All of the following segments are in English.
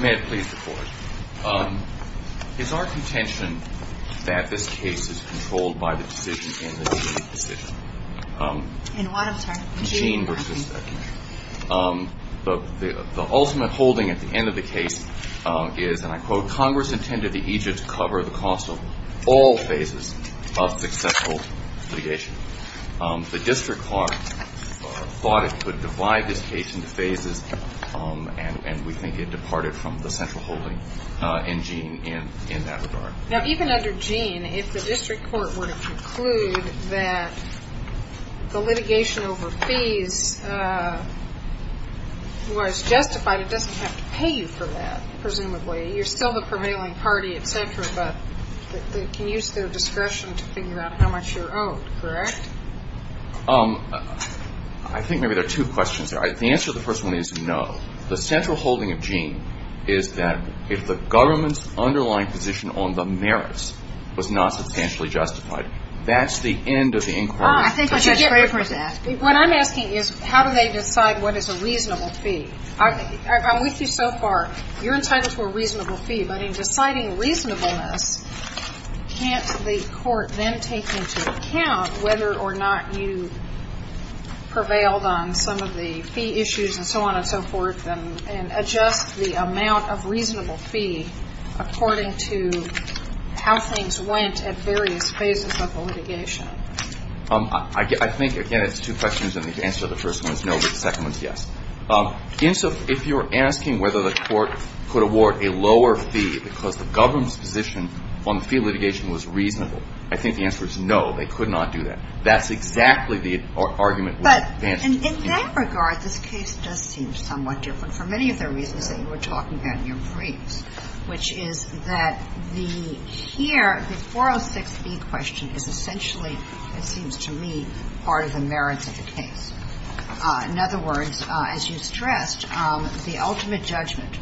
May I please report? It is our contention that this case is controlled by the decision in the decision. In what attempt? Jean v. Barnhart. The ultimate holding at the end of the case is, and I quote, Congress intended the Egypt to cover the cost of all phases of successful litigation. The district court thought it could divide this case into phases, and we think it departed from the central holding in Jean in that regard. Now, even under Jean, if the district court were to conclude that the litigation over fees was justified, it doesn't have to pay you for that, presumably. You're still the prevailing party, et cetera, but they can use their discretion to figure out how much you're owed, correct? I think maybe there are two questions there. The answer to the first one is no. The central holding of Jean is that if the government's underlying position on the merits was not substantially justified, that's the end of the inquiry. What I'm asking is how do they decide what is a reasonable fee? I'm with you so far. You're entitled to a reasonable fee, but in deciding reasonableness, can't the court then take into account whether or not you prevailed on some of the fee issues and so on and so forth and adjust the amount of reasonable fee according to how things went at various phases of the litigation? I think, again, it's two questions, and the answer to the first one is no, but the second one is yes. If you're asking whether the court could award a lower fee because the government's position on the fee litigation was reasonable, I think the answer is no. They could not do that. That's exactly the argument we advance to. But in that regard, this case does seem somewhat different for many of the reasons that you were talking about in your briefs, which is that the here, the 406B question is essentially, it seems to me, part of the merits of the case. In other words, as you stressed, the ultimate judgment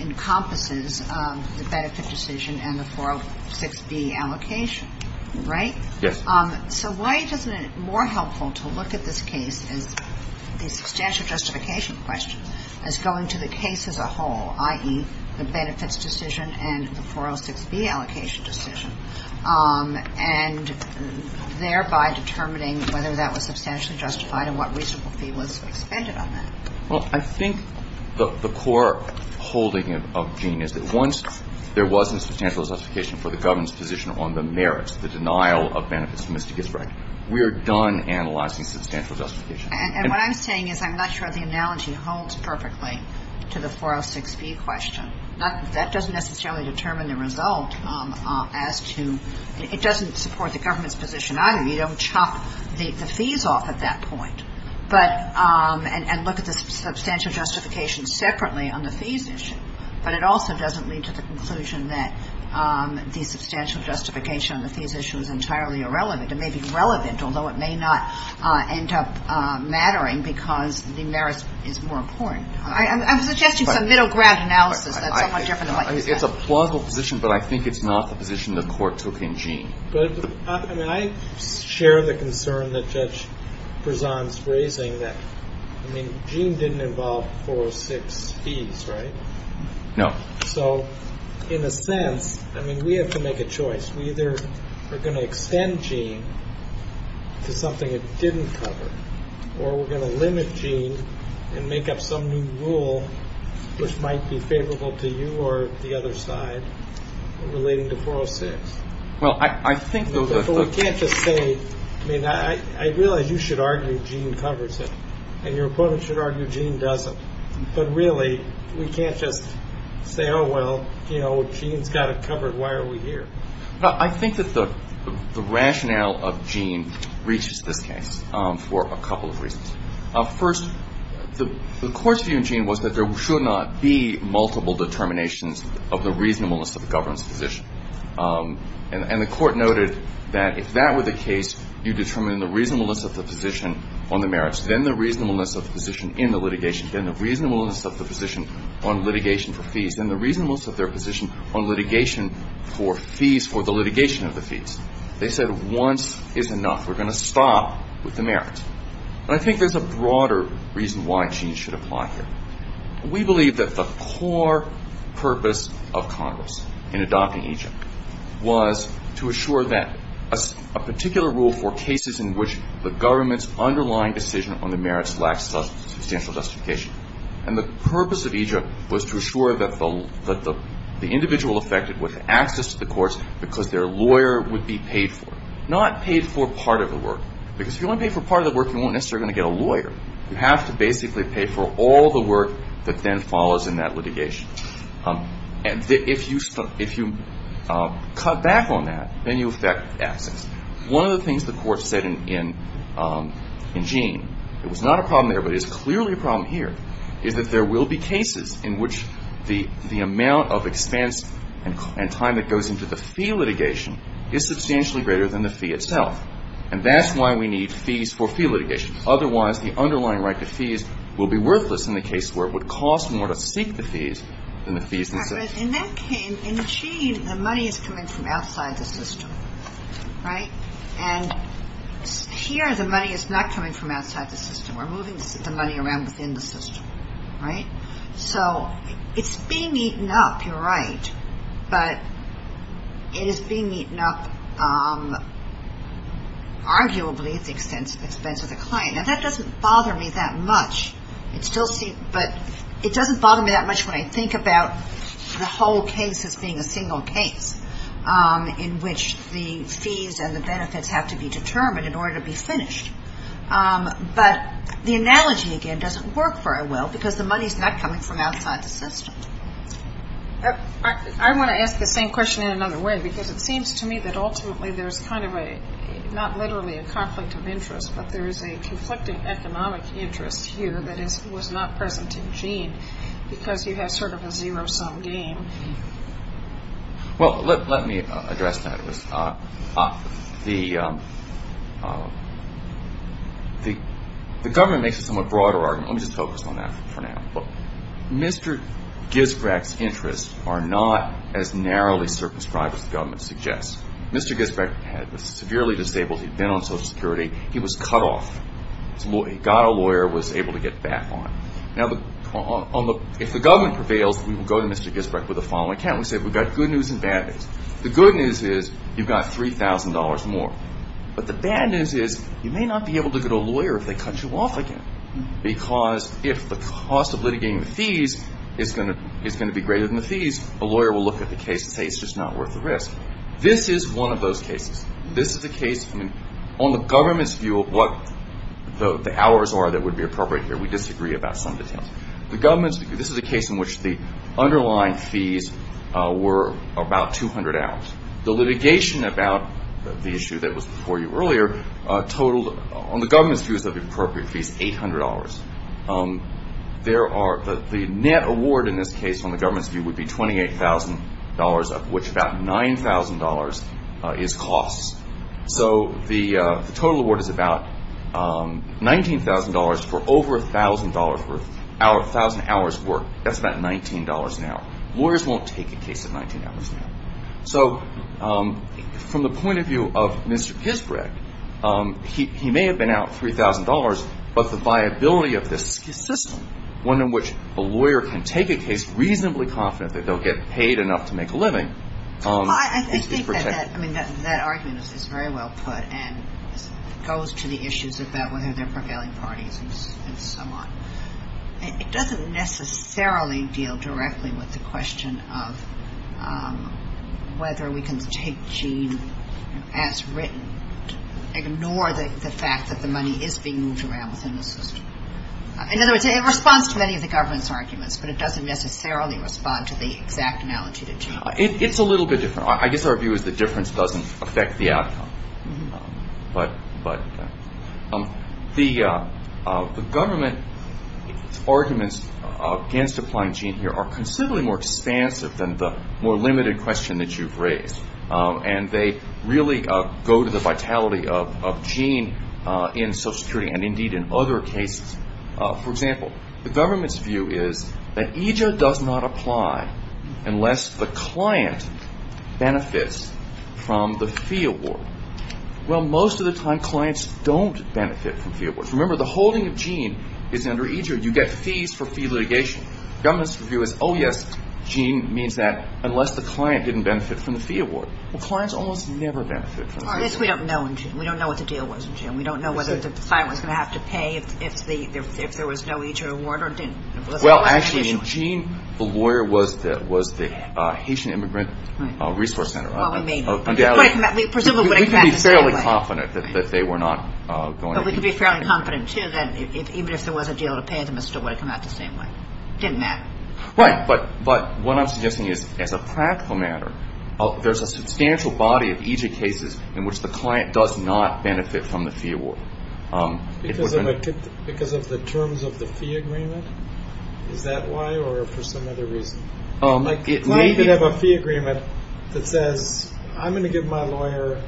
encompasses the benefit decision and the 406B allocation. Right? Yes. So why isn't it more helpful to look at this case, the substantial justification question, as going to the case as a whole, i.e., the benefits decision and the 406B allocation decision, and thereby determining whether that was substantially justified and what reasonable fee was expended on that? Well, I think the core holding of Gene is that once there was a substantial justification for the government's position on the merits, the denial of benefits to Mr. Gisbride, we are done analyzing substantial justification. And what I'm saying is I'm not sure the analogy holds perfectly to the 406B question. That doesn't necessarily determine the result as to — it doesn't support the government's position either. You don't chop the fees off at that point and look at the substantial justification separately on the fees issue. But it also doesn't lead to the conclusion that the substantial justification on the fees issue is entirely irrelevant. It may be relevant, although it may not end up mattering because the merits is more important. I'm suggesting some middle ground analysis that's somewhat different than what you said. It's a plausible position, but I think it's not the position the Court took in Gene. But I mean, I share the concern that Judge Prezant's raising that, I mean, Gene didn't involve 406 fees, right? No. So in a sense, I mean, we have to make a choice. We either are going to extend Gene to something it didn't cover, or we're going to limit Gene and make up some new rule which might be favorable to you or the other side relating to 406. Well, I think those are — But we can't just say — I mean, I realize you should argue Gene covers it, and your opponent should argue Gene doesn't. But really, we can't just say, oh, well, you know, Gene's got it covered. Why are we here? Well, I think that the rationale of Gene reaches this case for a couple of reasons. First, the Court's view in Gene was that there should not be multiple determinations of the reasonableness of the government's position. And the Court noted that if that were the case, you determine the reasonableness of the position on the merits, then the reasonableness of the position in the litigation, then the reasonableness of the position on litigation for fees, then the reasonableness of their position on litigation for fees for the litigation of the fees. They said once is enough. We're going to stop with the merits. But I think there's a broader reason why Gene should apply here. We believe that the core purpose of Congress in adopting Egypt was to assure that — a particular rule for cases in which the government's underlying decision on the merits lacks substantial justification. And the purpose of Egypt was to assure that the individual affected with access to the courts because their lawyer would be paid for, not paid for part of the work. Because if you only pay for part of the work, you won't necessarily get a lawyer. You have to basically pay for all the work that then follows in that litigation. And if you cut back on that, then you affect access. One of the things the Court said in Gene, it was not a problem there, but is clearly a problem here, is that there will be cases in which the amount of expense and time that goes into the fee litigation is substantially greater than the fee itself. And that's why we need fees for fee litigation. Otherwise, the underlying right to fees will be worthless in the case where it would cost more to seek the fees than the fees themselves. But in that case, in Gene, the money is coming from outside the system, right? And here the money is not coming from outside the system. We're moving the money around within the system, right? So it's being eaten up, you're right, but it is being eaten up, arguably, at the expense of the client. Now, that doesn't bother me that much. But it doesn't bother me that much when I think about the whole case as being a single case in which the fees and the benefits have to be determined in order to be finished. But the analogy, again, doesn't work very well, because the money is not coming from outside the system. I want to ask the same question in another way, because it seems to me that ultimately there's kind of a, not literally a conflict of interest, but there is a conflict of economic interest here that was not present in Gene, because you have sort of a zero-sum game. Well, let me address that. The government makes a somewhat broader argument. Let me just focus on that for now. Mr. Gisbrecht's interests are not as narrowly circumscribed as the government suggests. Mr. Gisbrecht was severely disabled. He'd been on Social Security. He was cut off. He got a lawyer, was able to get back on. Now, if the government prevails, we will go to Mr. Gisbrecht with the following account. We say we've got good news and bad news. The good news is you've got $3,000 more. But the bad news is you may not be able to get a lawyer if they cut you off again, because if the cost of litigating the fees is going to be greater than the fees, a lawyer will look at the case and say it's just not worth the risk. This is one of those cases. This is a case, I mean, on the government's view of what the hours are that would be appropriate here. We disagree about some details. The government's view, this is a case in which the underlying fees were about 200 hours. The litigation about the issue that was before you earlier totaled, on the government's views of the appropriate fees, $800. There are, the net award in this case on the government's view would be $28,000, of which about $9,000 is costs. So the total award is about $19,000 for over $1,000 worth, 1,000 hours worth. That's about $19 an hour. Lawyers won't take a case at $19 an hour. So from the point of view of Mr. Kisbreg, he may have been out $3,000, but the viability of this system, one in which a lawyer can take a case reasonably confident that they'll get paid enough to make a living. I think that argument is very well put and goes to the issues about whether they're prevailing parties and so on. It doesn't necessarily deal directly with the question of whether we can take gene as written, ignore the fact that the money is being moved around within the system. In other words, it responds to many of the government's arguments, but it doesn't necessarily respond to the exact analogy to gene. It's a little bit different. I guess our view is the difference doesn't affect the outcome. But the government's arguments against applying gene here are considerably more expansive than the more limited question that you've raised, and they really go to the vitality of gene in Social Security and, indeed, in other cases. For example, the government's view is that EJA does not apply unless the client benefits from the fee award. Well, most of the time, clients don't benefit from fee awards. Remember, the holding of gene is under EJA. You get fees for fee litigation. The government's view is, oh, yes, gene means that unless the client didn't benefit from the fee award. Well, clients almost never benefit from the fee award. This we don't know in gene. We don't know what the deal was in gene. We don't know whether the client was going to have to pay if there was no EJA award or didn't. Well, actually, in gene, the lawyer was the Haitian Immigrant Resource Center. Well, we mean. Presumably it would have come out the same way. We can be fairly confident that they were not going to be. But we can be fairly confident, too, that even if there was a deal to pay them, it still would have come out the same way. It didn't matter. Right. But what I'm suggesting is, as a practical matter, there's a substantial body of EJA cases in which the client does not benefit from the fee award. Because of the terms of the fee agreement? Is that why or for some other reason? Like the client could have a fee agreement that says, I'm going to give my lawyer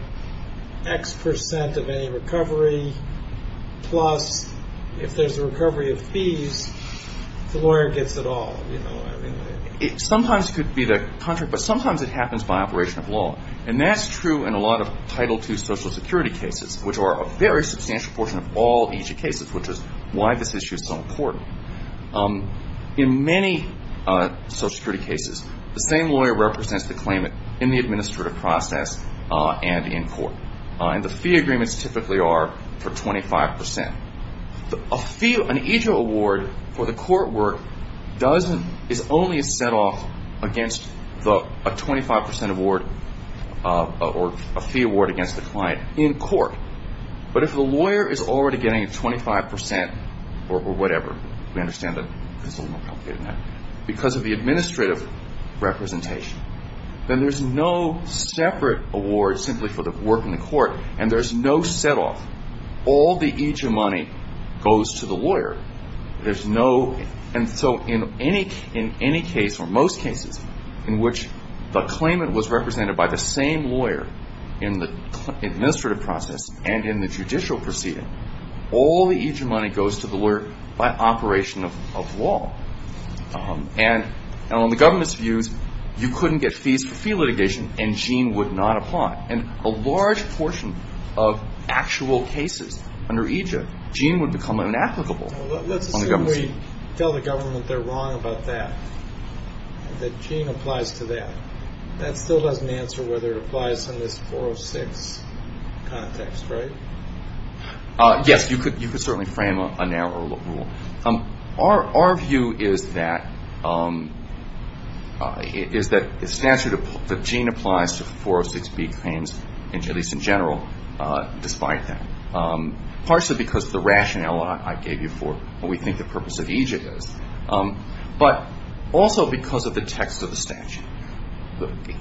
X percent of any recovery, plus if there's a recovery of fees, the lawyer gets it all. Sometimes it could be the contrary, but sometimes it happens by operation of law. And that's true in a lot of Title II Social Security cases, which are a very substantial portion of all EJA cases, which is why this issue is so important. In many Social Security cases, the same lawyer represents the claimant in the administrative process and in court. And the fee agreements typically are for 25 percent. An EJA award for the court work is only a set-off against a 25 percent award or a fee award against the client in court. But if the lawyer is already getting 25 percent or whatever, we understand that it's a little more complicated than that, because of the administrative representation, then there's no separate award simply for the work in the court, and there's no set-off. All the EJA money goes to the lawyer. And so in any case, or most cases, in which the claimant was represented by the same lawyer in the administrative process and in the judicial proceeding, all the EJA money goes to the lawyer by operation of law. And on the government's views, you couldn't get fees for fee litigation, and Gene would not apply. And a large portion of actual cases under EJA, Gene would become inapplicable. Let's assume we tell the government they're wrong about that, that Gene applies to that. That still doesn't answer whether it applies in this 406 context, right? Yes. You could certainly frame a narrower rule. Our view is that the statute, that Gene applies to 406B claims, at least in general, despite that, partially because of the rationale I gave you for what we think the purpose of EJA is, but also because of the text of the statute.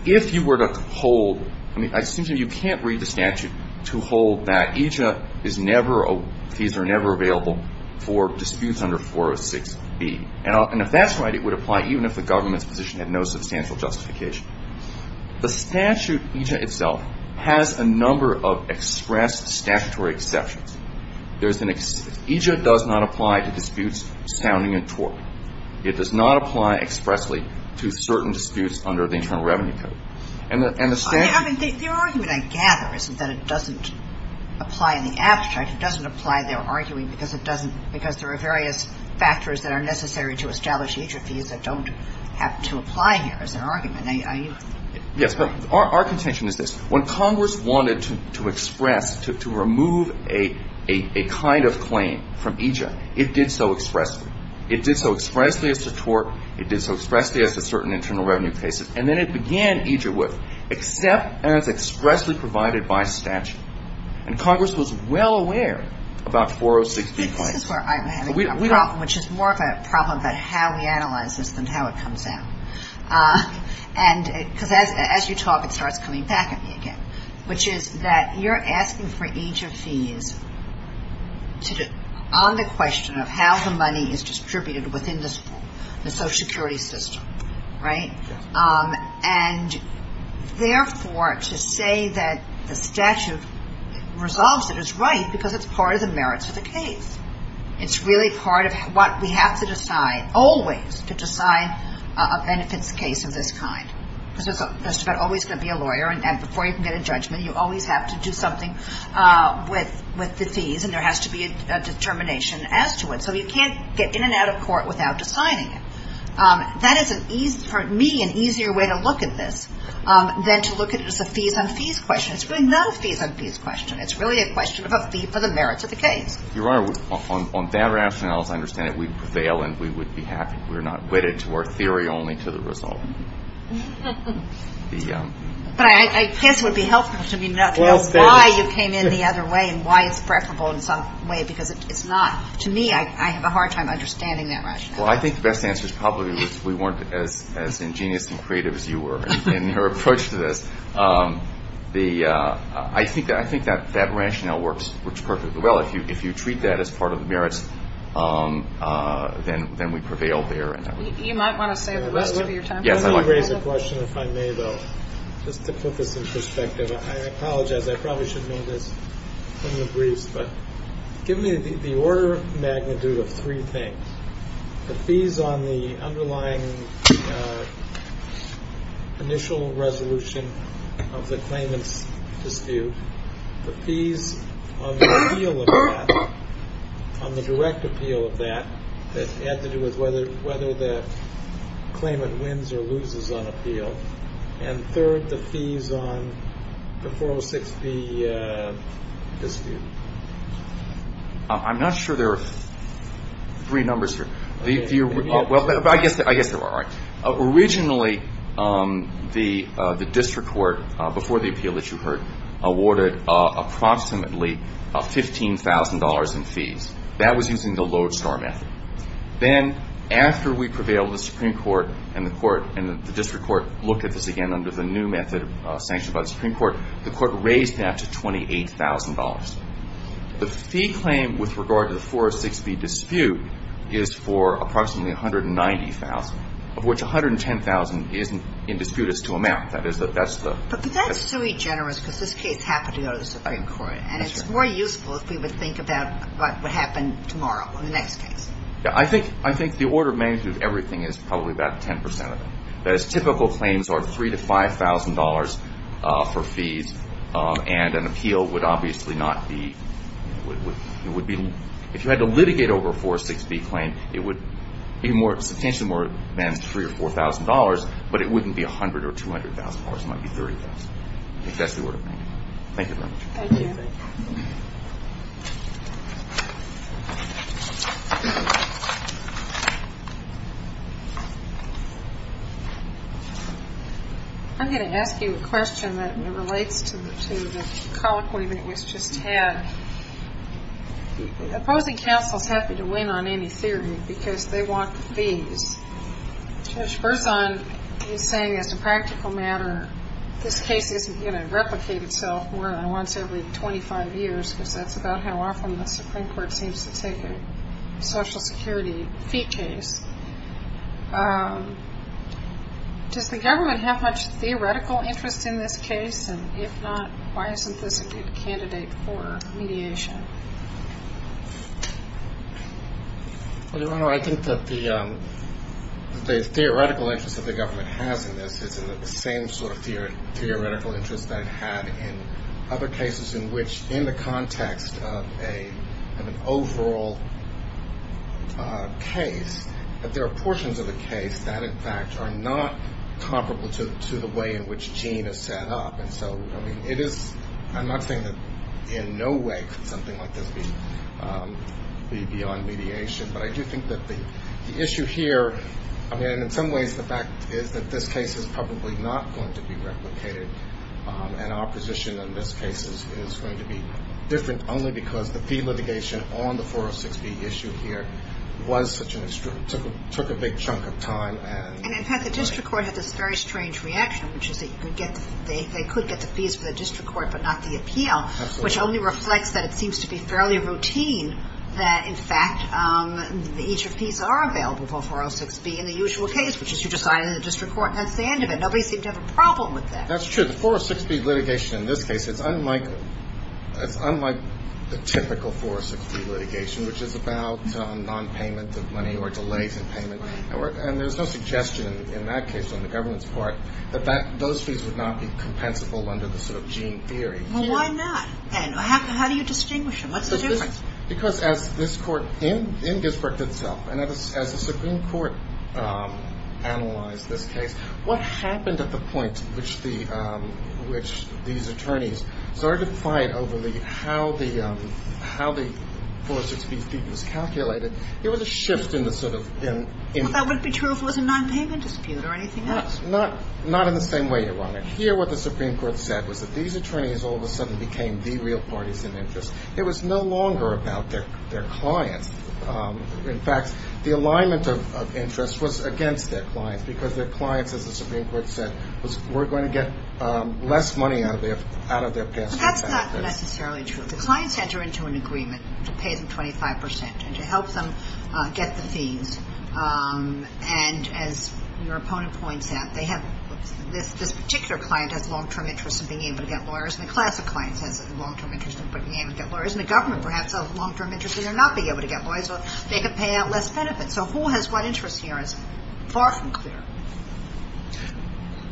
If you were to hold, I mean, I assume you can't read the statute to hold that EJA is never, fees are never available for disputes under 406B. And if that's right, it would apply even if the government's position had no substantial justification. The statute, EJA itself, has a number of express statutory exceptions. EJA does not apply to disputes sounding in tort. It does not apply expressly to certain disputes under the Internal Revenue Code. I mean, the argument I gather isn't that it doesn't apply in the abstract. It doesn't apply in their arguing because it doesn't, because there are various factors that are necessary to establish EJA fees that don't have to apply here as an argument. Yes, but our contention is this. When Congress wanted to express, to remove a kind of claim from EJA, it did so expressly. It did so expressly as to tort. It did so expressly as to certain internal revenue cases. And then it began EJA with, except as expressly provided by statute. And Congress was well aware about 406B claims. This is where I'm having a problem, which is more of a problem about how we analyze this than how it comes out. Because as you talk, it starts coming back at me again, which is that you're asking for EJA fees on the question of how the money is distributed within the Social Security system. Right? And, therefore, to say that the statute resolves it is right because it's part of the merits of the case. It's really part of what we have to decide, always to decide a benefits case of this kind. Because there's always going to be a lawyer, and before you can get a judgment, you always have to do something with the fees, and there has to be a determination as to it. So you can't get in and out of court without deciding it. That is an easy, for me, an easier way to look at this than to look at it as a fees-on-fees question. It's really no fees-on-fees question. It's really a question of a fee for the merits of the case. Your Honor, on that rationale, as I understand it, we prevail and we would be happy. We're not wedded to our theory only to the result. But I guess it would be helpful to me not to know why you came in the other way and why it's preferable in some way because it's not. To me, I have a hard time understanding that rationale. Well, I think the best answer is probably we weren't as ingenious and creative as you were in your approach to this. I think that rationale works perfectly well. If you treat that as part of the merits, then we prevail there. You might want to save the rest of your time. Yes, I might. Let me raise a question, if I may, though, just to put this in perspective. I apologize. I probably should have made this in the briefs. But give me the order of magnitude of three things. The fees on the underlying initial resolution of the claimant's dispute, the fees on the appeal of that, on the direct appeal of that, that had to do with whether the claimant wins or loses on appeal, and third, the fees on the 406B dispute. I'm not sure there are three numbers here. Well, I guess they're all right. Originally, the district court, before the appeal that you heard, awarded approximately $15,000 in fees. That was using the lodestar method. Then, after we prevailed, the Supreme Court and the court, and the district court looked at this again under the new method of sanction by the Supreme Court, the court raised that to $28,000. The fee claim with regard to the 406B dispute is for approximately $190,000, of which $110,000 in dispute is to amount. That's the ---- But that's sui generis because this case happened to go to the Supreme Court. That's right. And it's more useful if we would think about what would happen tomorrow on the next case. I think the order of management of everything is probably about 10% of it. Typical claims are $3,000 to $5,000 for fees, and an appeal would obviously not be ---- If you had to litigate over a 406B claim, it would be substantially more than $3,000 or $4,000, but it wouldn't be $100,000 or $200,000. It might be $30,000. That's the order of management. Thank you very much. Thank you. Thank you. I'm going to ask you a question that relates to the colloquy that was just had. Opposing counsel is happy to win on any theory because they want fees. Judge Berzon is saying, as a practical matter, this case isn't going to replicate itself more than once every 25 years because that's about how often the Supreme Court seems to take a Social Security fee case. Does the government have much theoretical interest in this case? And if not, why isn't this a good candidate for mediation? Your Honor, I think that the theoretical interest that the government has in this is the same sort of theoretical interest that it had in other cases in which in the context of an overall case, that there are portions of the case that, in fact, are not comparable to the way in which Gene is set up. And so, I mean, it is – I'm not saying that in no way could something like this be beyond mediation, but I do think that the issue here, I mean, in some ways the fact is that this case is probably not going to be replicated and our position in this case is going to be different only because the fee litigation on the 406B issue here was such an – took a big chunk of time. And, in fact, the district court had this very strange reaction, which is that you could get – they could get the fees for the district court but not the appeal, which only reflects that it seems to be fairly routine that, in fact, each of fees are available for 406B in the usual case, which is you just sign it in the district court and that's the end of it. Nobody seemed to have a problem with that. That's true. The 406B litigation in this case is unlike – it's unlike the typical 406B litigation, which is about nonpayment of money or delays in payment. Right. And there's no suggestion in that case on the government's part that those fees would not be compensable under the sort of Gene theory. Well, why not? And how do you distinguish them? What's the difference? Because as this court in Gettysburg itself, and as the Supreme Court analyzed this case, what happened at the point which these attorneys started to fight over how the 406B fee was calculated, there was a shift in the sort of – Well, that wouldn't be true if it was a nonpayment dispute or anything else. Not in the same way, Your Honor. Here what the Supreme Court said was that these attorneys all of a sudden became the real parties in interest. It was no longer about their clients. In fact, the alignment of interest was against their clients because their clients, as the Supreme Court said, were going to get less money out of their pay. But that's not necessarily true. The clients enter into an agreement to pay them 25 percent and to help them get the fees. And as your opponent points out, this particular client has long-term interests in being able to get lawyers, and a class of clients has long-term interests in being able to get lawyers. And the government perhaps has long-term interests in not being able to get lawyers, so they can pay out less benefits. So who has what interest here is far from clear.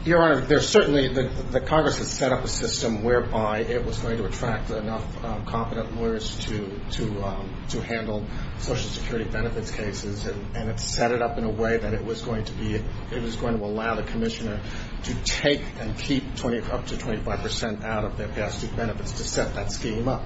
Your Honor, there's certainly – the Congress has set up a system whereby it was going to attract enough competent lawyers to handle Social Security benefits cases, and it set it up in a way that it was going to be – it was going to allow the commissioner to take and keep up to 25 percent out of their past year's benefits to set that scheme up.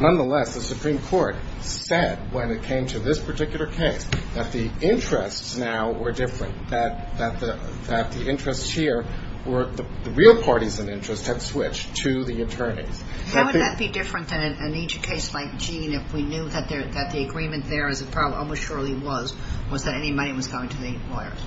Nonetheless, the Supreme Court said when it came to this particular case that the interests now were different, that the interests here were – the real parties in interest had switched to the attorneys. How would that be different than in each case like Gene if we knew that the agreement there, as it probably almost surely was, was that any money was going to the lawyers?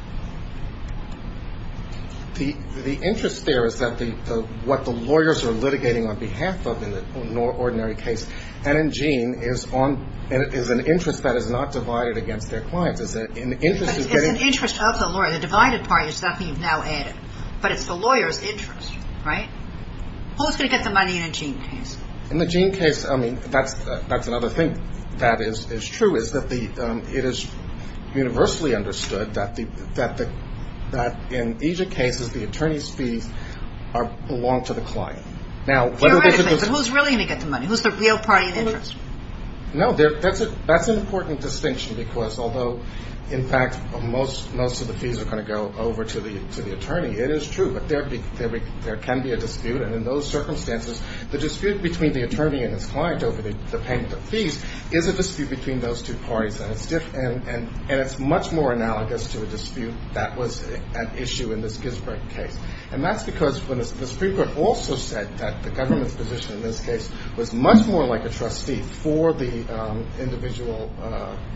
The interest there is that the – what the lawyers are litigating on behalf of in an ordinary case, and in Gene is on – is an interest that is not divided against their clients. It's an interest of the lawyer. The divided party is nothing you've now added. But it's the lawyer's interest, right? Who's going to get the money in a Gene case? In the Gene case, I mean, that's another thing that is true, is that it is universally understood that in each of the cases, the attorney's fees belong to the client. Now, whether they could – Theoretically, but who's really going to get the money? Who's the real party in interest? No, that's an important distinction because although, in fact, most of the fees are going to go over to the attorney, it is true. But there can be a dispute, and in those circumstances, the dispute between the attorney and his client over the payment of fees is a dispute between those two parties, and it's much more analogous to a dispute that was at issue in this Gisbert case. And that's because the Supreme Court also said that the government's position in this case was much more like a trustee for the individual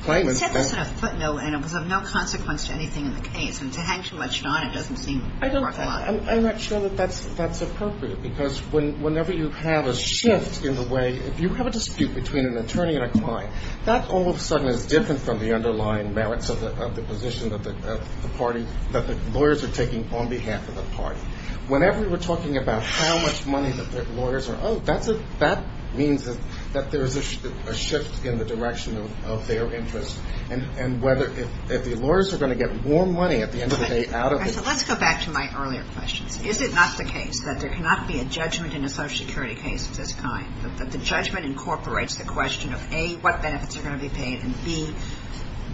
claimant. It said this in a footnote, and it was of no consequence to anything in the case. And to hang too much on it doesn't seem worthwhile. I'm not sure that that's appropriate because whenever you have a shift in the way – if you have a dispute between an attorney and a client, that all of a sudden is different from the underlying merits of the position that the lawyers are taking on behalf of the party. Whenever we're talking about how much money that lawyers are owed, that means that there is a shift in the direction of their interest. And whether – if the lawyers are going to get more money at the end of the day out of it – Let's go back to my earlier questions. Is it not the case that there cannot be a judgment in a Social Security case of this kind, that the judgment incorporates the question of, A, what benefits are going to be paid, and, B,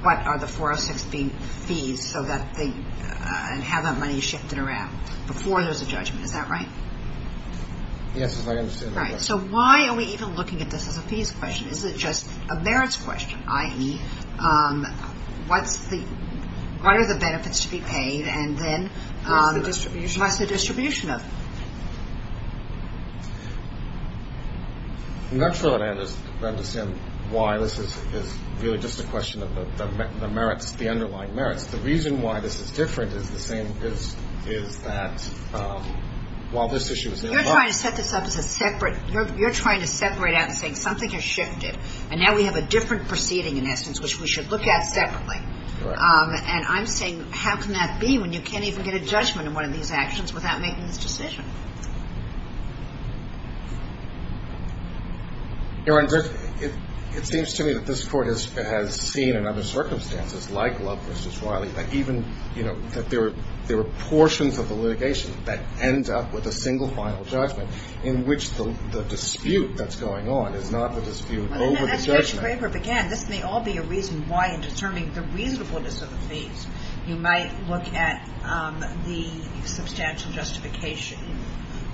what are the 406 fees so that they – and how that money is shifted around before there's a judgment? Is that right? Yes, as I understand it. Right. So why are we even looking at this as a fees question? Is it just a merits question, i.e., what are the benefits to be paid and then – What's the distribution of them? I'm not sure that I understand why this is really just a question of the merits – the underlying merits. The reason why this is different is the same as – is that while this issue is – You're trying to set this up as a separate – you're trying to separate out and say something has shifted, and now we have a different proceeding, in essence, which we should look at separately. Right. And I'm saying how can that be when you can't even get a judgment in one of these actions without making this decision? Your Honor, it seems to me that this Court has seen in other circumstances, like Love v. Wiley, that even – that there are portions of the litigation that ends up with a single final judgment in which the dispute that's going on is not the dispute over the judgment. That's where your paper began. This may all be a reason why in determining the reasonableness of the fees you might look at the substantial justification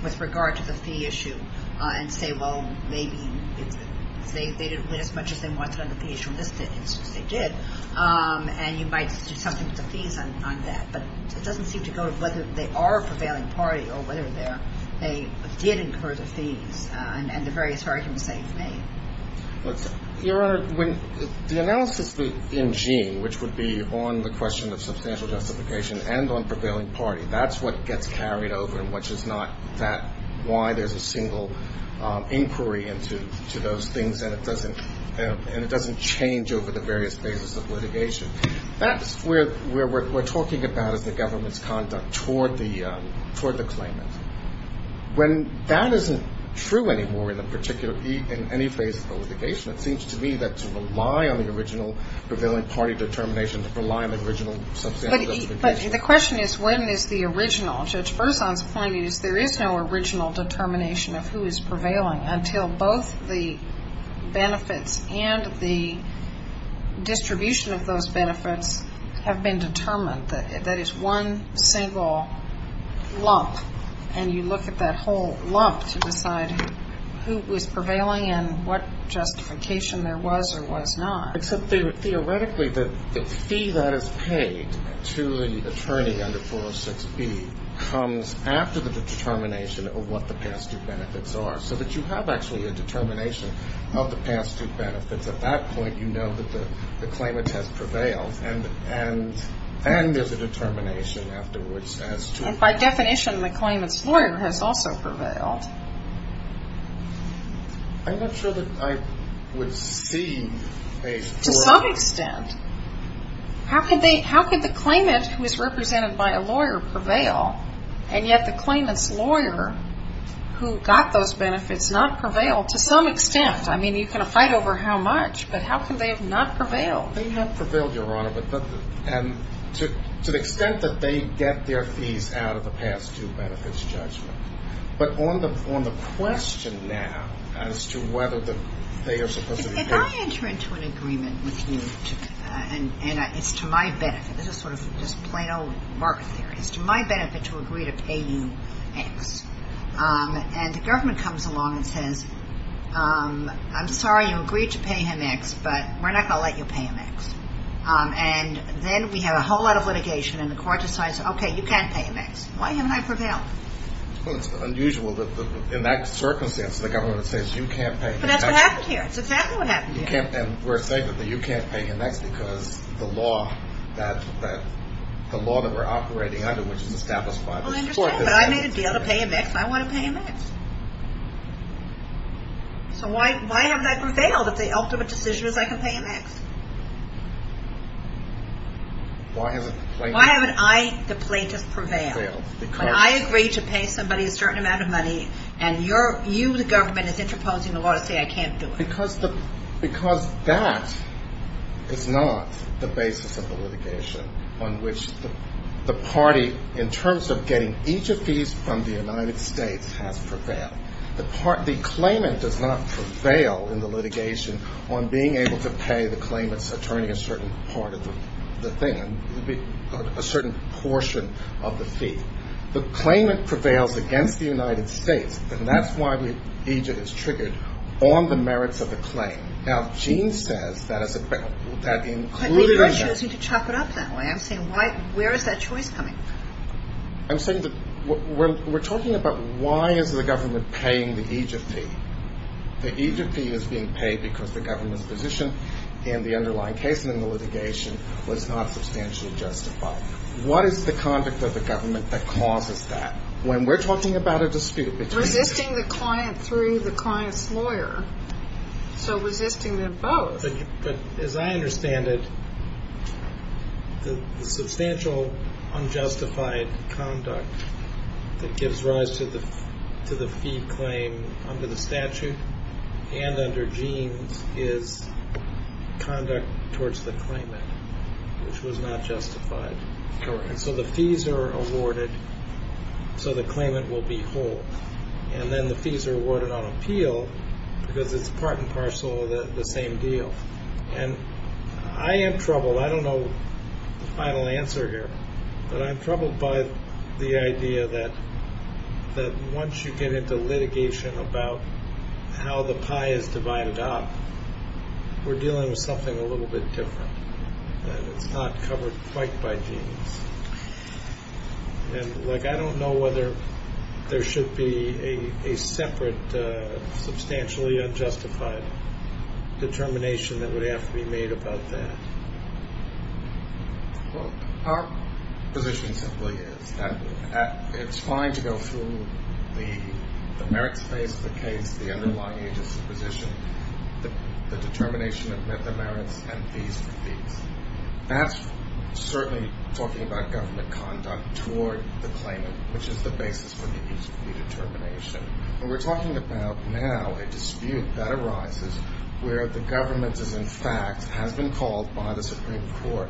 with regard to the fee issue and say, well, maybe they didn't win as much as they wanted on the fee issue in this case. They did. And you might do something with the fees on that. But it doesn't seem to go to whether they are a prevailing party or whether they did incur the fees and the various arguments that you've made. Your Honor, the analysis in Gene, which would be on the question of substantial justification and on prevailing party, that's what gets carried over and which is not that – why there's a single inquiry into those things and it doesn't change over the various phases of litigation. That's where we're talking about is the government's conduct toward the claimant. When that isn't true anymore in any phase of the litigation, it seems to me that to rely on the original prevailing party determination, to rely on the original substantial justification. But the question is when is the original. Judge Berzon's point is there is no original determination of who is prevailing until both the benefits and the distribution of those benefits have been determined. That is one single lump. And you look at that whole lump to decide who was prevailing and what justification there was or was not. Except theoretically the fee that is paid to the attorney under 406B comes after the determination of what the past due benefits are. So that you have actually a determination of the past due benefits. At that point, you know that the claimant has prevailed. And there's a determination afterwards as to... By definition, the claimant's lawyer has also prevailed. I'm not sure that I would see a... To some extent. How could the claimant who is represented by a lawyer prevail and yet the claimant's lawyer who got those benefits not prevail to some extent? I mean, you can fight over how much, but how could they have not prevailed? Well, they have prevailed, Your Honor. And to the extent that they get their fees out of the past due benefits judgment. But on the question now as to whether they are supposed to be paid... If I enter into an agreement with you, and it's to my benefit, this is sort of just plain old market theory, it's to my benefit to agree to pay you X. And the government comes along and says, I'm sorry you agreed to pay him X, but we're not going to let you pay him X. And then we have a whole lot of litigation, and the court decides, okay, you can't pay him X. Why haven't I prevailed? Well, it's unusual that in that circumstance, the government says you can't pay him X. But that's what happened here. That's exactly what happened here. And we're saying that you can't pay him X because the law that we're operating under, which is established by the court... So why haven't I prevailed if the ultimate decision is I can pay him X? Why haven't I, the plaintiff, prevailed? When I agreed to pay somebody a certain amount of money, and you, the government, is interposing the law to say I can't do it. Because that is not the basis of the litigation on which the party, in terms of getting each of these from the United States, has prevailed. The claimant does not prevail in the litigation on being able to pay the claimant's attorney a certain part of the thing, a certain portion of the fee. The claimant prevails against the United States, and that's why the agent is triggered on the merits of the claim. Now, Gene says that as a... Maybe they're choosing to chop it up that way. I'm saying, where is that choice coming from? I'm saying that we're talking about why is the government paying the Egypt fee? The Egypt fee is being paid because the government's position in the underlying case and in the litigation was not substantially justified. What is the conduct of the government that causes that? When we're talking about a dispute between... Resisting the client through the client's lawyer. So resisting them both. But as I understand it, the substantial unjustified conduct that gives rise to the fee claim under the statute and under Gene's is conduct towards the claimant, which was not justified. So the fees are awarded so the claimant will be whole, and then the fees are awarded on appeal because it's part and parcel of the same deal. And I am troubled. I don't know the final answer here, but I'm troubled by the idea that once you get into litigation about how the pie is divided up, we're dealing with something a little bit different. That it's not covered quite by Gene's. And I don't know whether there should be a separate substantially unjustified determination that would have to be made about that. Our position simply is that it's fine to go through the merits base of the case, the underlying agency position, the determination of the merits and fees for fees. That's certainly talking about government conduct toward the claimant, which is the basis for the use of redetermination. And we're talking about now a dispute that arises where the government is in fact has been called by the Supreme Court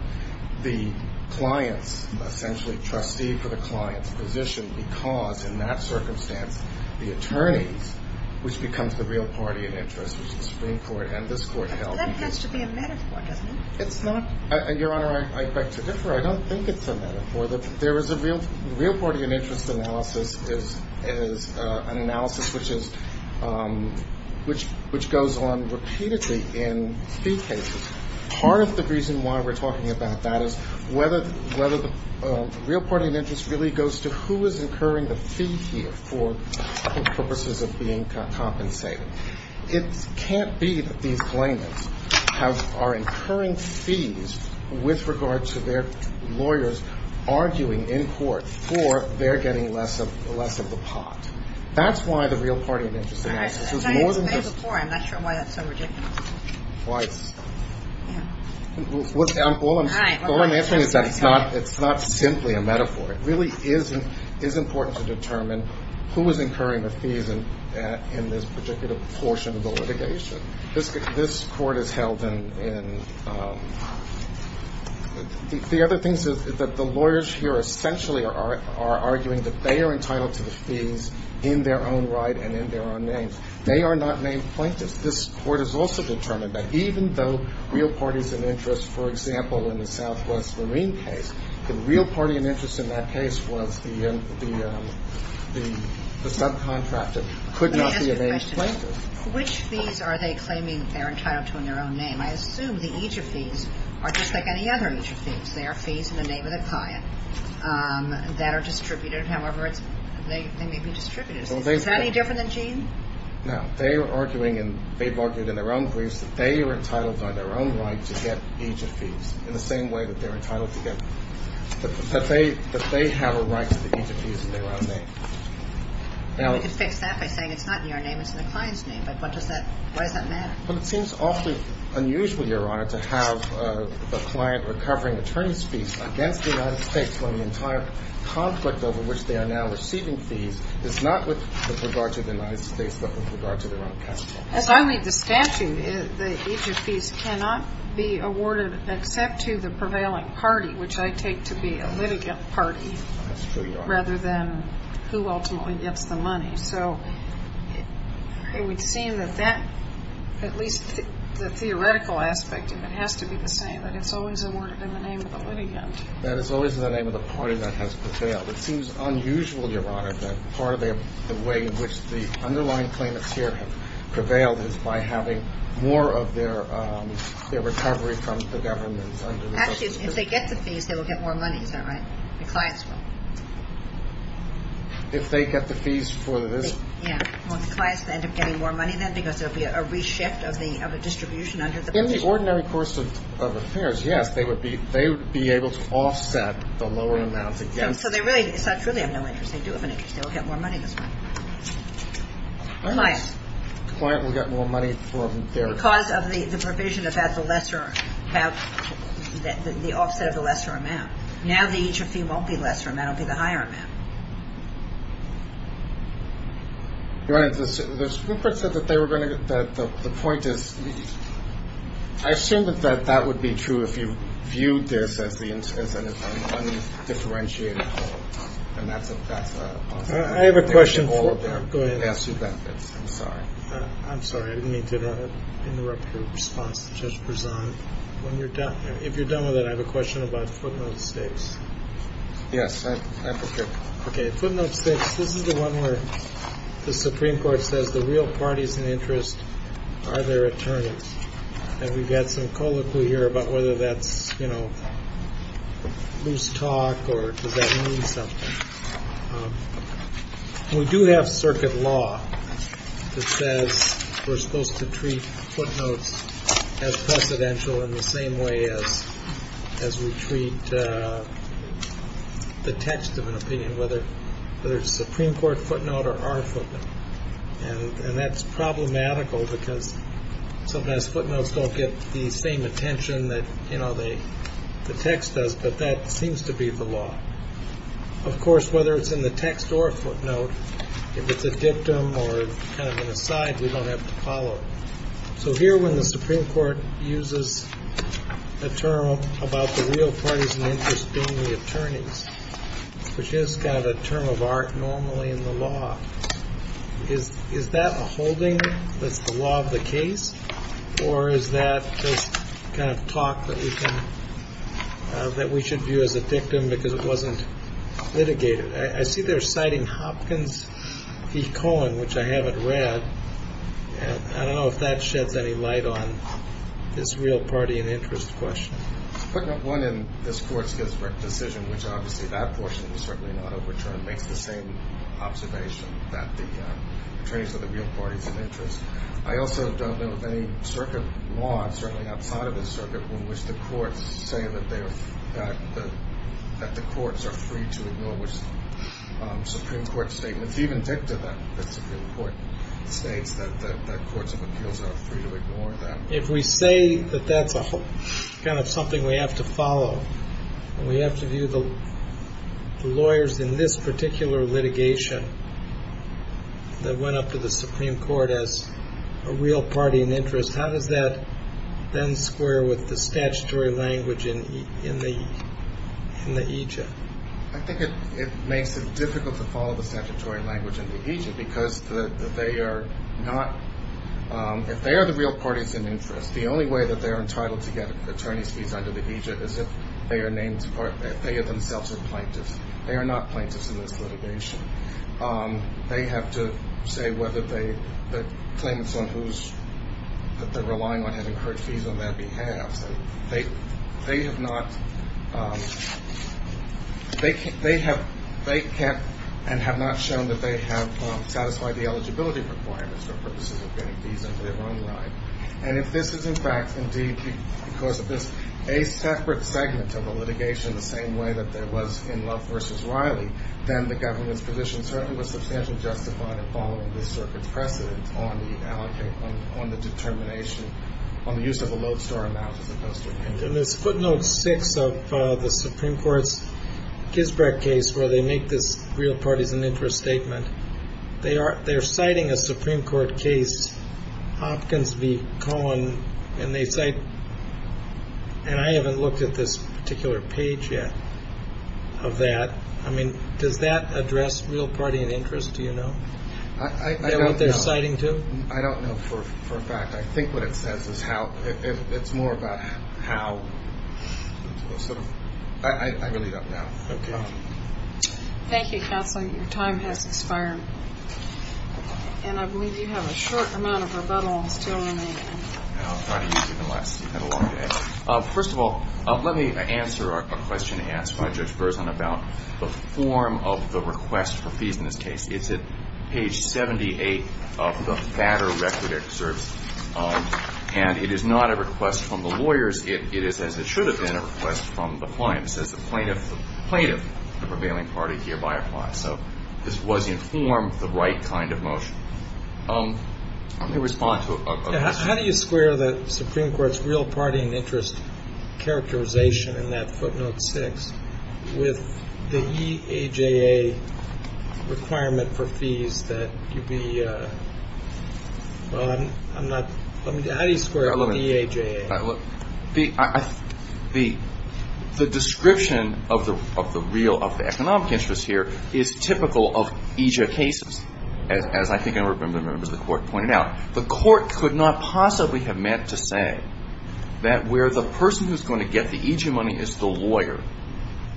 the client's essentially trustee for the client's position because in that circumstance the attorneys, which becomes the real party of interest, which is the Supreme Court and this court held. So that has to be a metaphor, doesn't it? It's not. Your Honor, I beg to differ. I don't think it's a metaphor. The real party of interest analysis is an analysis which goes on repeatedly in fee cases. Part of the reason why we're talking about that is whether the real party of interest really goes to who is incurring the fee here for purposes of being compensated. It can't be that these claimants are incurring fees with regard to their lawyers arguing in court for their getting less of the pot. That's why the real party of interest analysis is more than just. I've said it before. I'm not sure why that's so ridiculous. Twice. All I'm answering is that it's not simply a metaphor. It really is important to determine who is incurring the fees in this particular portion of the litigation. This court is held in. The other thing is that the lawyers here essentially are arguing that they are entitled to the fees in their own right and in their own names. They are not named plaintiffs. This court has also determined that even though real parties of interest, for example, in the Southwest Marine case, the real party of interest in that case was the subcontractor. It could not be a named plaintiff. Let me ask you a question. Which fees are they claiming they're entitled to in their own name? I assume that each of these are just like any other each of these. There are fees in the name of the client that are distributed. However, they may be distributed. Is that any different than Gene? No. They are arguing and they've argued in their own briefs that they are entitled by their own right to get each of these in the same way that they're entitled to get. That they have a right to each of these in their own name. You could fix that by saying it's not in your name, it's in the client's name. But what does that, why does that matter? Well, it seems awfully unusual, Your Honor, to have a client recovering attorney's fees against the United States when the entire conflict over which they are now receiving fees is not with regard to the United States but with regard to their own counsel. As I read the statute, each of these cannot be awarded except to the prevailing party, which I take to be a litigant party rather than who ultimately gets the money. So it would seem that that, at least the theoretical aspect of it, has to be the same, that it's always awarded in the name of the litigant. That it's always in the name of the party that has prevailed. It seems unusual, Your Honor, that part of the way in which the underlying claimants here have prevailed is by having more of their recovery from the government. Actually, if they get the fees, they will get more money, is that right? The clients will. If they get the fees for this. Yeah. Won't the clients end up getting more money then? Because there will be a reshift of the distribution under the position. In the ordinary course of affairs, yes, they would be able to offset the lower amounts against. So they really, it's not truly of no interest. They do have an interest. They will get more money this way. Clients. Clients will get more money for their. Because of the provision about the lesser, about the offset of the lesser amount. Now the interest fee won't be lesser. That will be the higher amount. Your Honor, the scooper said that they were going to, that the point is, I assume that that would be true if you viewed this as an undifferentiated whole. I have a question. Go ahead. I'm sorry. I'm sorry. I didn't mean to interrupt your response to Judge Prezant. If you're done with it, I have a question about footnote six. Yes. Okay. Footnote six. This is the one where the Supreme Court says the real parties in interest are their attorneys. And we've got some colloquy here about whether that's, you know, loose talk or does that mean something? We do have circuit law that says we're supposed to treat footnotes as presidential in the same way as, as we treat the text of an opinion, whether there's a Supreme Court footnote or our footnote. And that's problematical because sometimes footnotes don't get the same attention that, you know, the text does. But that seems to be the law. Of course, whether it's in the text or footnote, if it's a dictum or kind of an aside, we don't have to follow. So here when the Supreme Court uses a term about the real parties in interest being the attorneys, which has got a term of art normally in the law, is that a holding that's the law of the case? Or is that just kind of talk that we can, that we should view as a dictum because it wasn't litigated? I see they're citing Hopkins v. Cohen, which I haven't read. And I don't know if that sheds any light on this real party in interest question. Putting up one in this court's decision, which obviously that portion was certainly not overturned, makes the same observation that the attorneys are the real parties of interest. I also don't know of any circuit law, certainly outside of the circuit, in which the courts say that they are, that the courts are free to ignore which Supreme Court statement. It's even dicta that the Supreme Court states that courts of appeals are free to ignore that. If we say that that's kind of something we have to follow, and we have to view the lawyers in this particular litigation that went up to the Supreme Court as a real party in interest, how does that then square with the statutory language in the aegis? I think it makes it difficult to follow the statutory language in the aegis because they are not, if they are the real parties in interest, the only way that they are entitled to get attorney's fees under the aegis is if they are themselves a plaintiff. They are not plaintiffs in this litigation. They have to say whether the claimants that they're relying on have incurred fees on their behalf. They have not shown that they have satisfied the eligibility requirements for purposes of getting fees under their own right. And if this is, in fact, indeed because of this, a separate segment of the litigation, the same way that there was in Love v. Riley, then the government's position certainly was substantially justified in following this circuit's precedent on the determination, on the use of a lodestar amount as opposed to a payment. In this footnote 6 of the Supreme Court's Gisbret case where they make this real parties in interest statement, they are citing a Supreme Court case, Hopkins v. Cohen, and they cite, and I haven't looked at this particular page yet of that. I mean, does that address real party in interest? Do you know? Is that what they're citing too? I don't know for a fact. I think what it says is how, it's more about how. I really don't know. Okay. Thank you, Counselor. Your time has expired. And I believe you have a short amount of rebuttal still remaining. I'll try to use even less. You've had a long day. First of all, let me answer a question asked by Judge Berzon about the form of the request for fees in this case. It's at page 78 of the Fatter Record Excerpt. And it is not a request from the lawyers. It is, as it should have been, a request from the client. It says the plaintiff, the prevailing party, hereby applies. So this was in form of the right kind of motion. Let me respond to a question. How do you square the Supreme Court's real party in interest characterization in that footnote 6 with the EAJA requirement for fees that you'd be, I'm not, how do you square it with the EAJA? The description of the real, of the economic interest here is typical of EAJA cases. As I think I remember the Court pointed out, the Court could not possibly have meant to say that where the person who's going to get the EAJA money is the lawyer.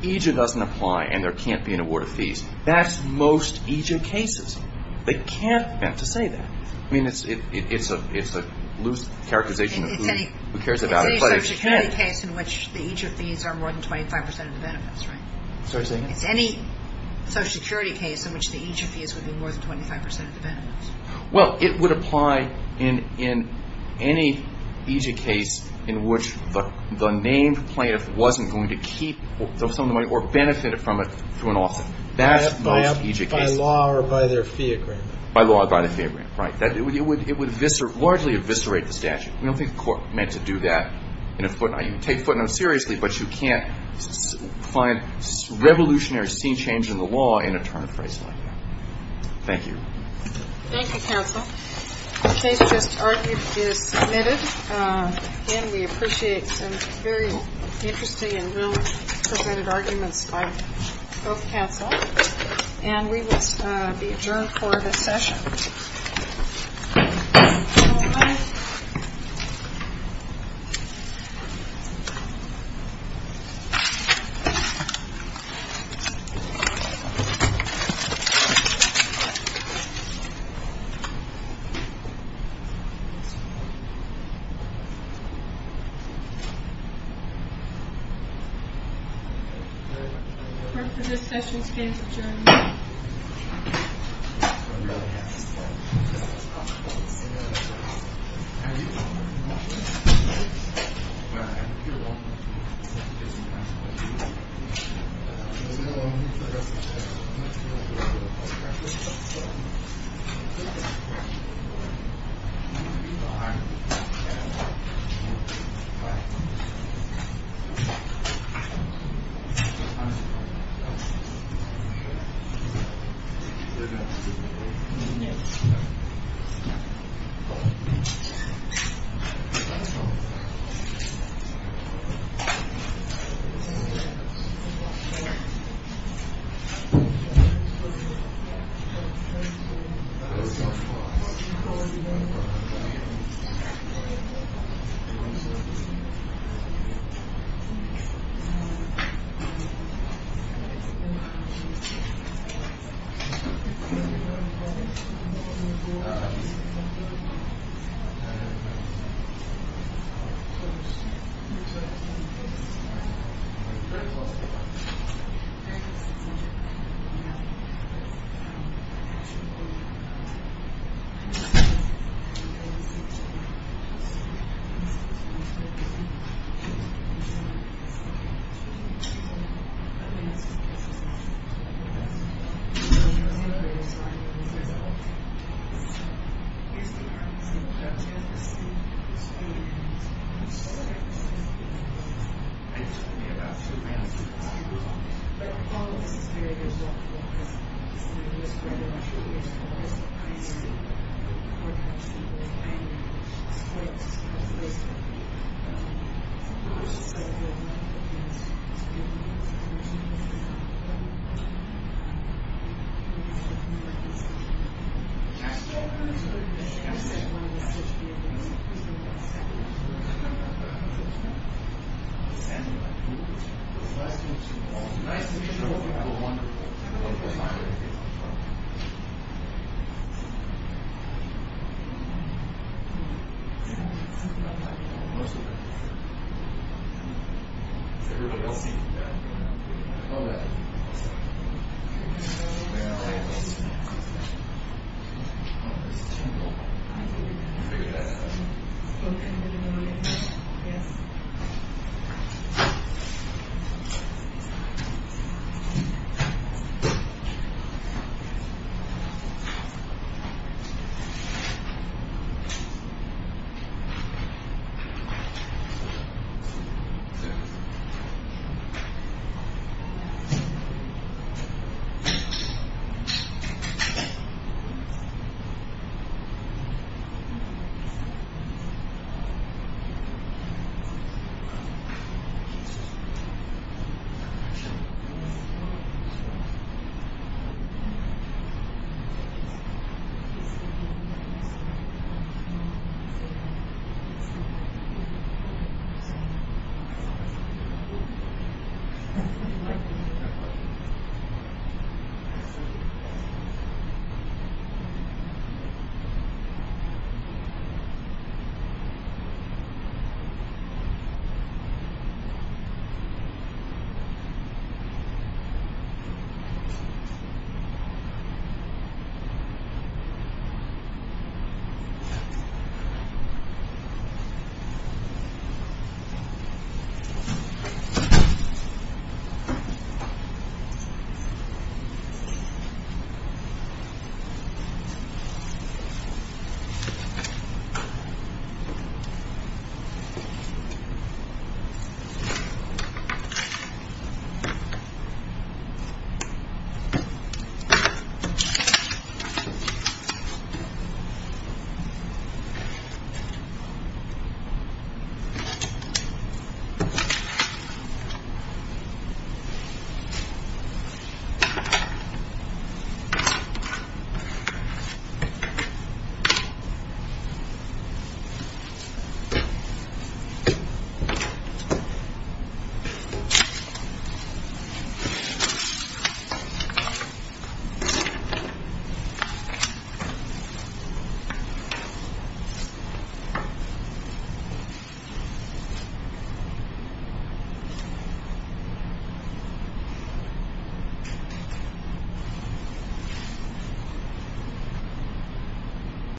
EAJA doesn't apply and there can't be an award of fees. That's most EAJA cases. They can't have meant to say that. I mean, it's a loose characterization of who cares about it, but it can. It's any Social Security case in which the EAJA fees are more than 25 percent of the benefits, right? Sorry, say again? It's any Social Security case in which the EAJA fees would be more than 25 percent of the benefits. Well, it would apply in any EAJA case in which the named plaintiff wasn't going to keep some of the money or benefit from it to an office. That's most EAJA cases. By law or by their fee agreement. By law or by their fee agreement, right? It would largely eviscerate the statute. We don't think the Court meant to do that in a footnote. You can take footnotes seriously, but you can't find revolutionary scene change in the law in a term phrasing like that. Thank you. Thank you, counsel. The case just argued is submitted. Again, we appreciate some very interesting and well-presented arguments by both counsel. And we will be adjourned for this session. All rise. Court is adjourned. Thank you. Thank you. Thank you. Thank you. Thank you. Thank you. Thank you. Thank you very much. Thank you. Thank you. Thank you. Thank you. Thank you.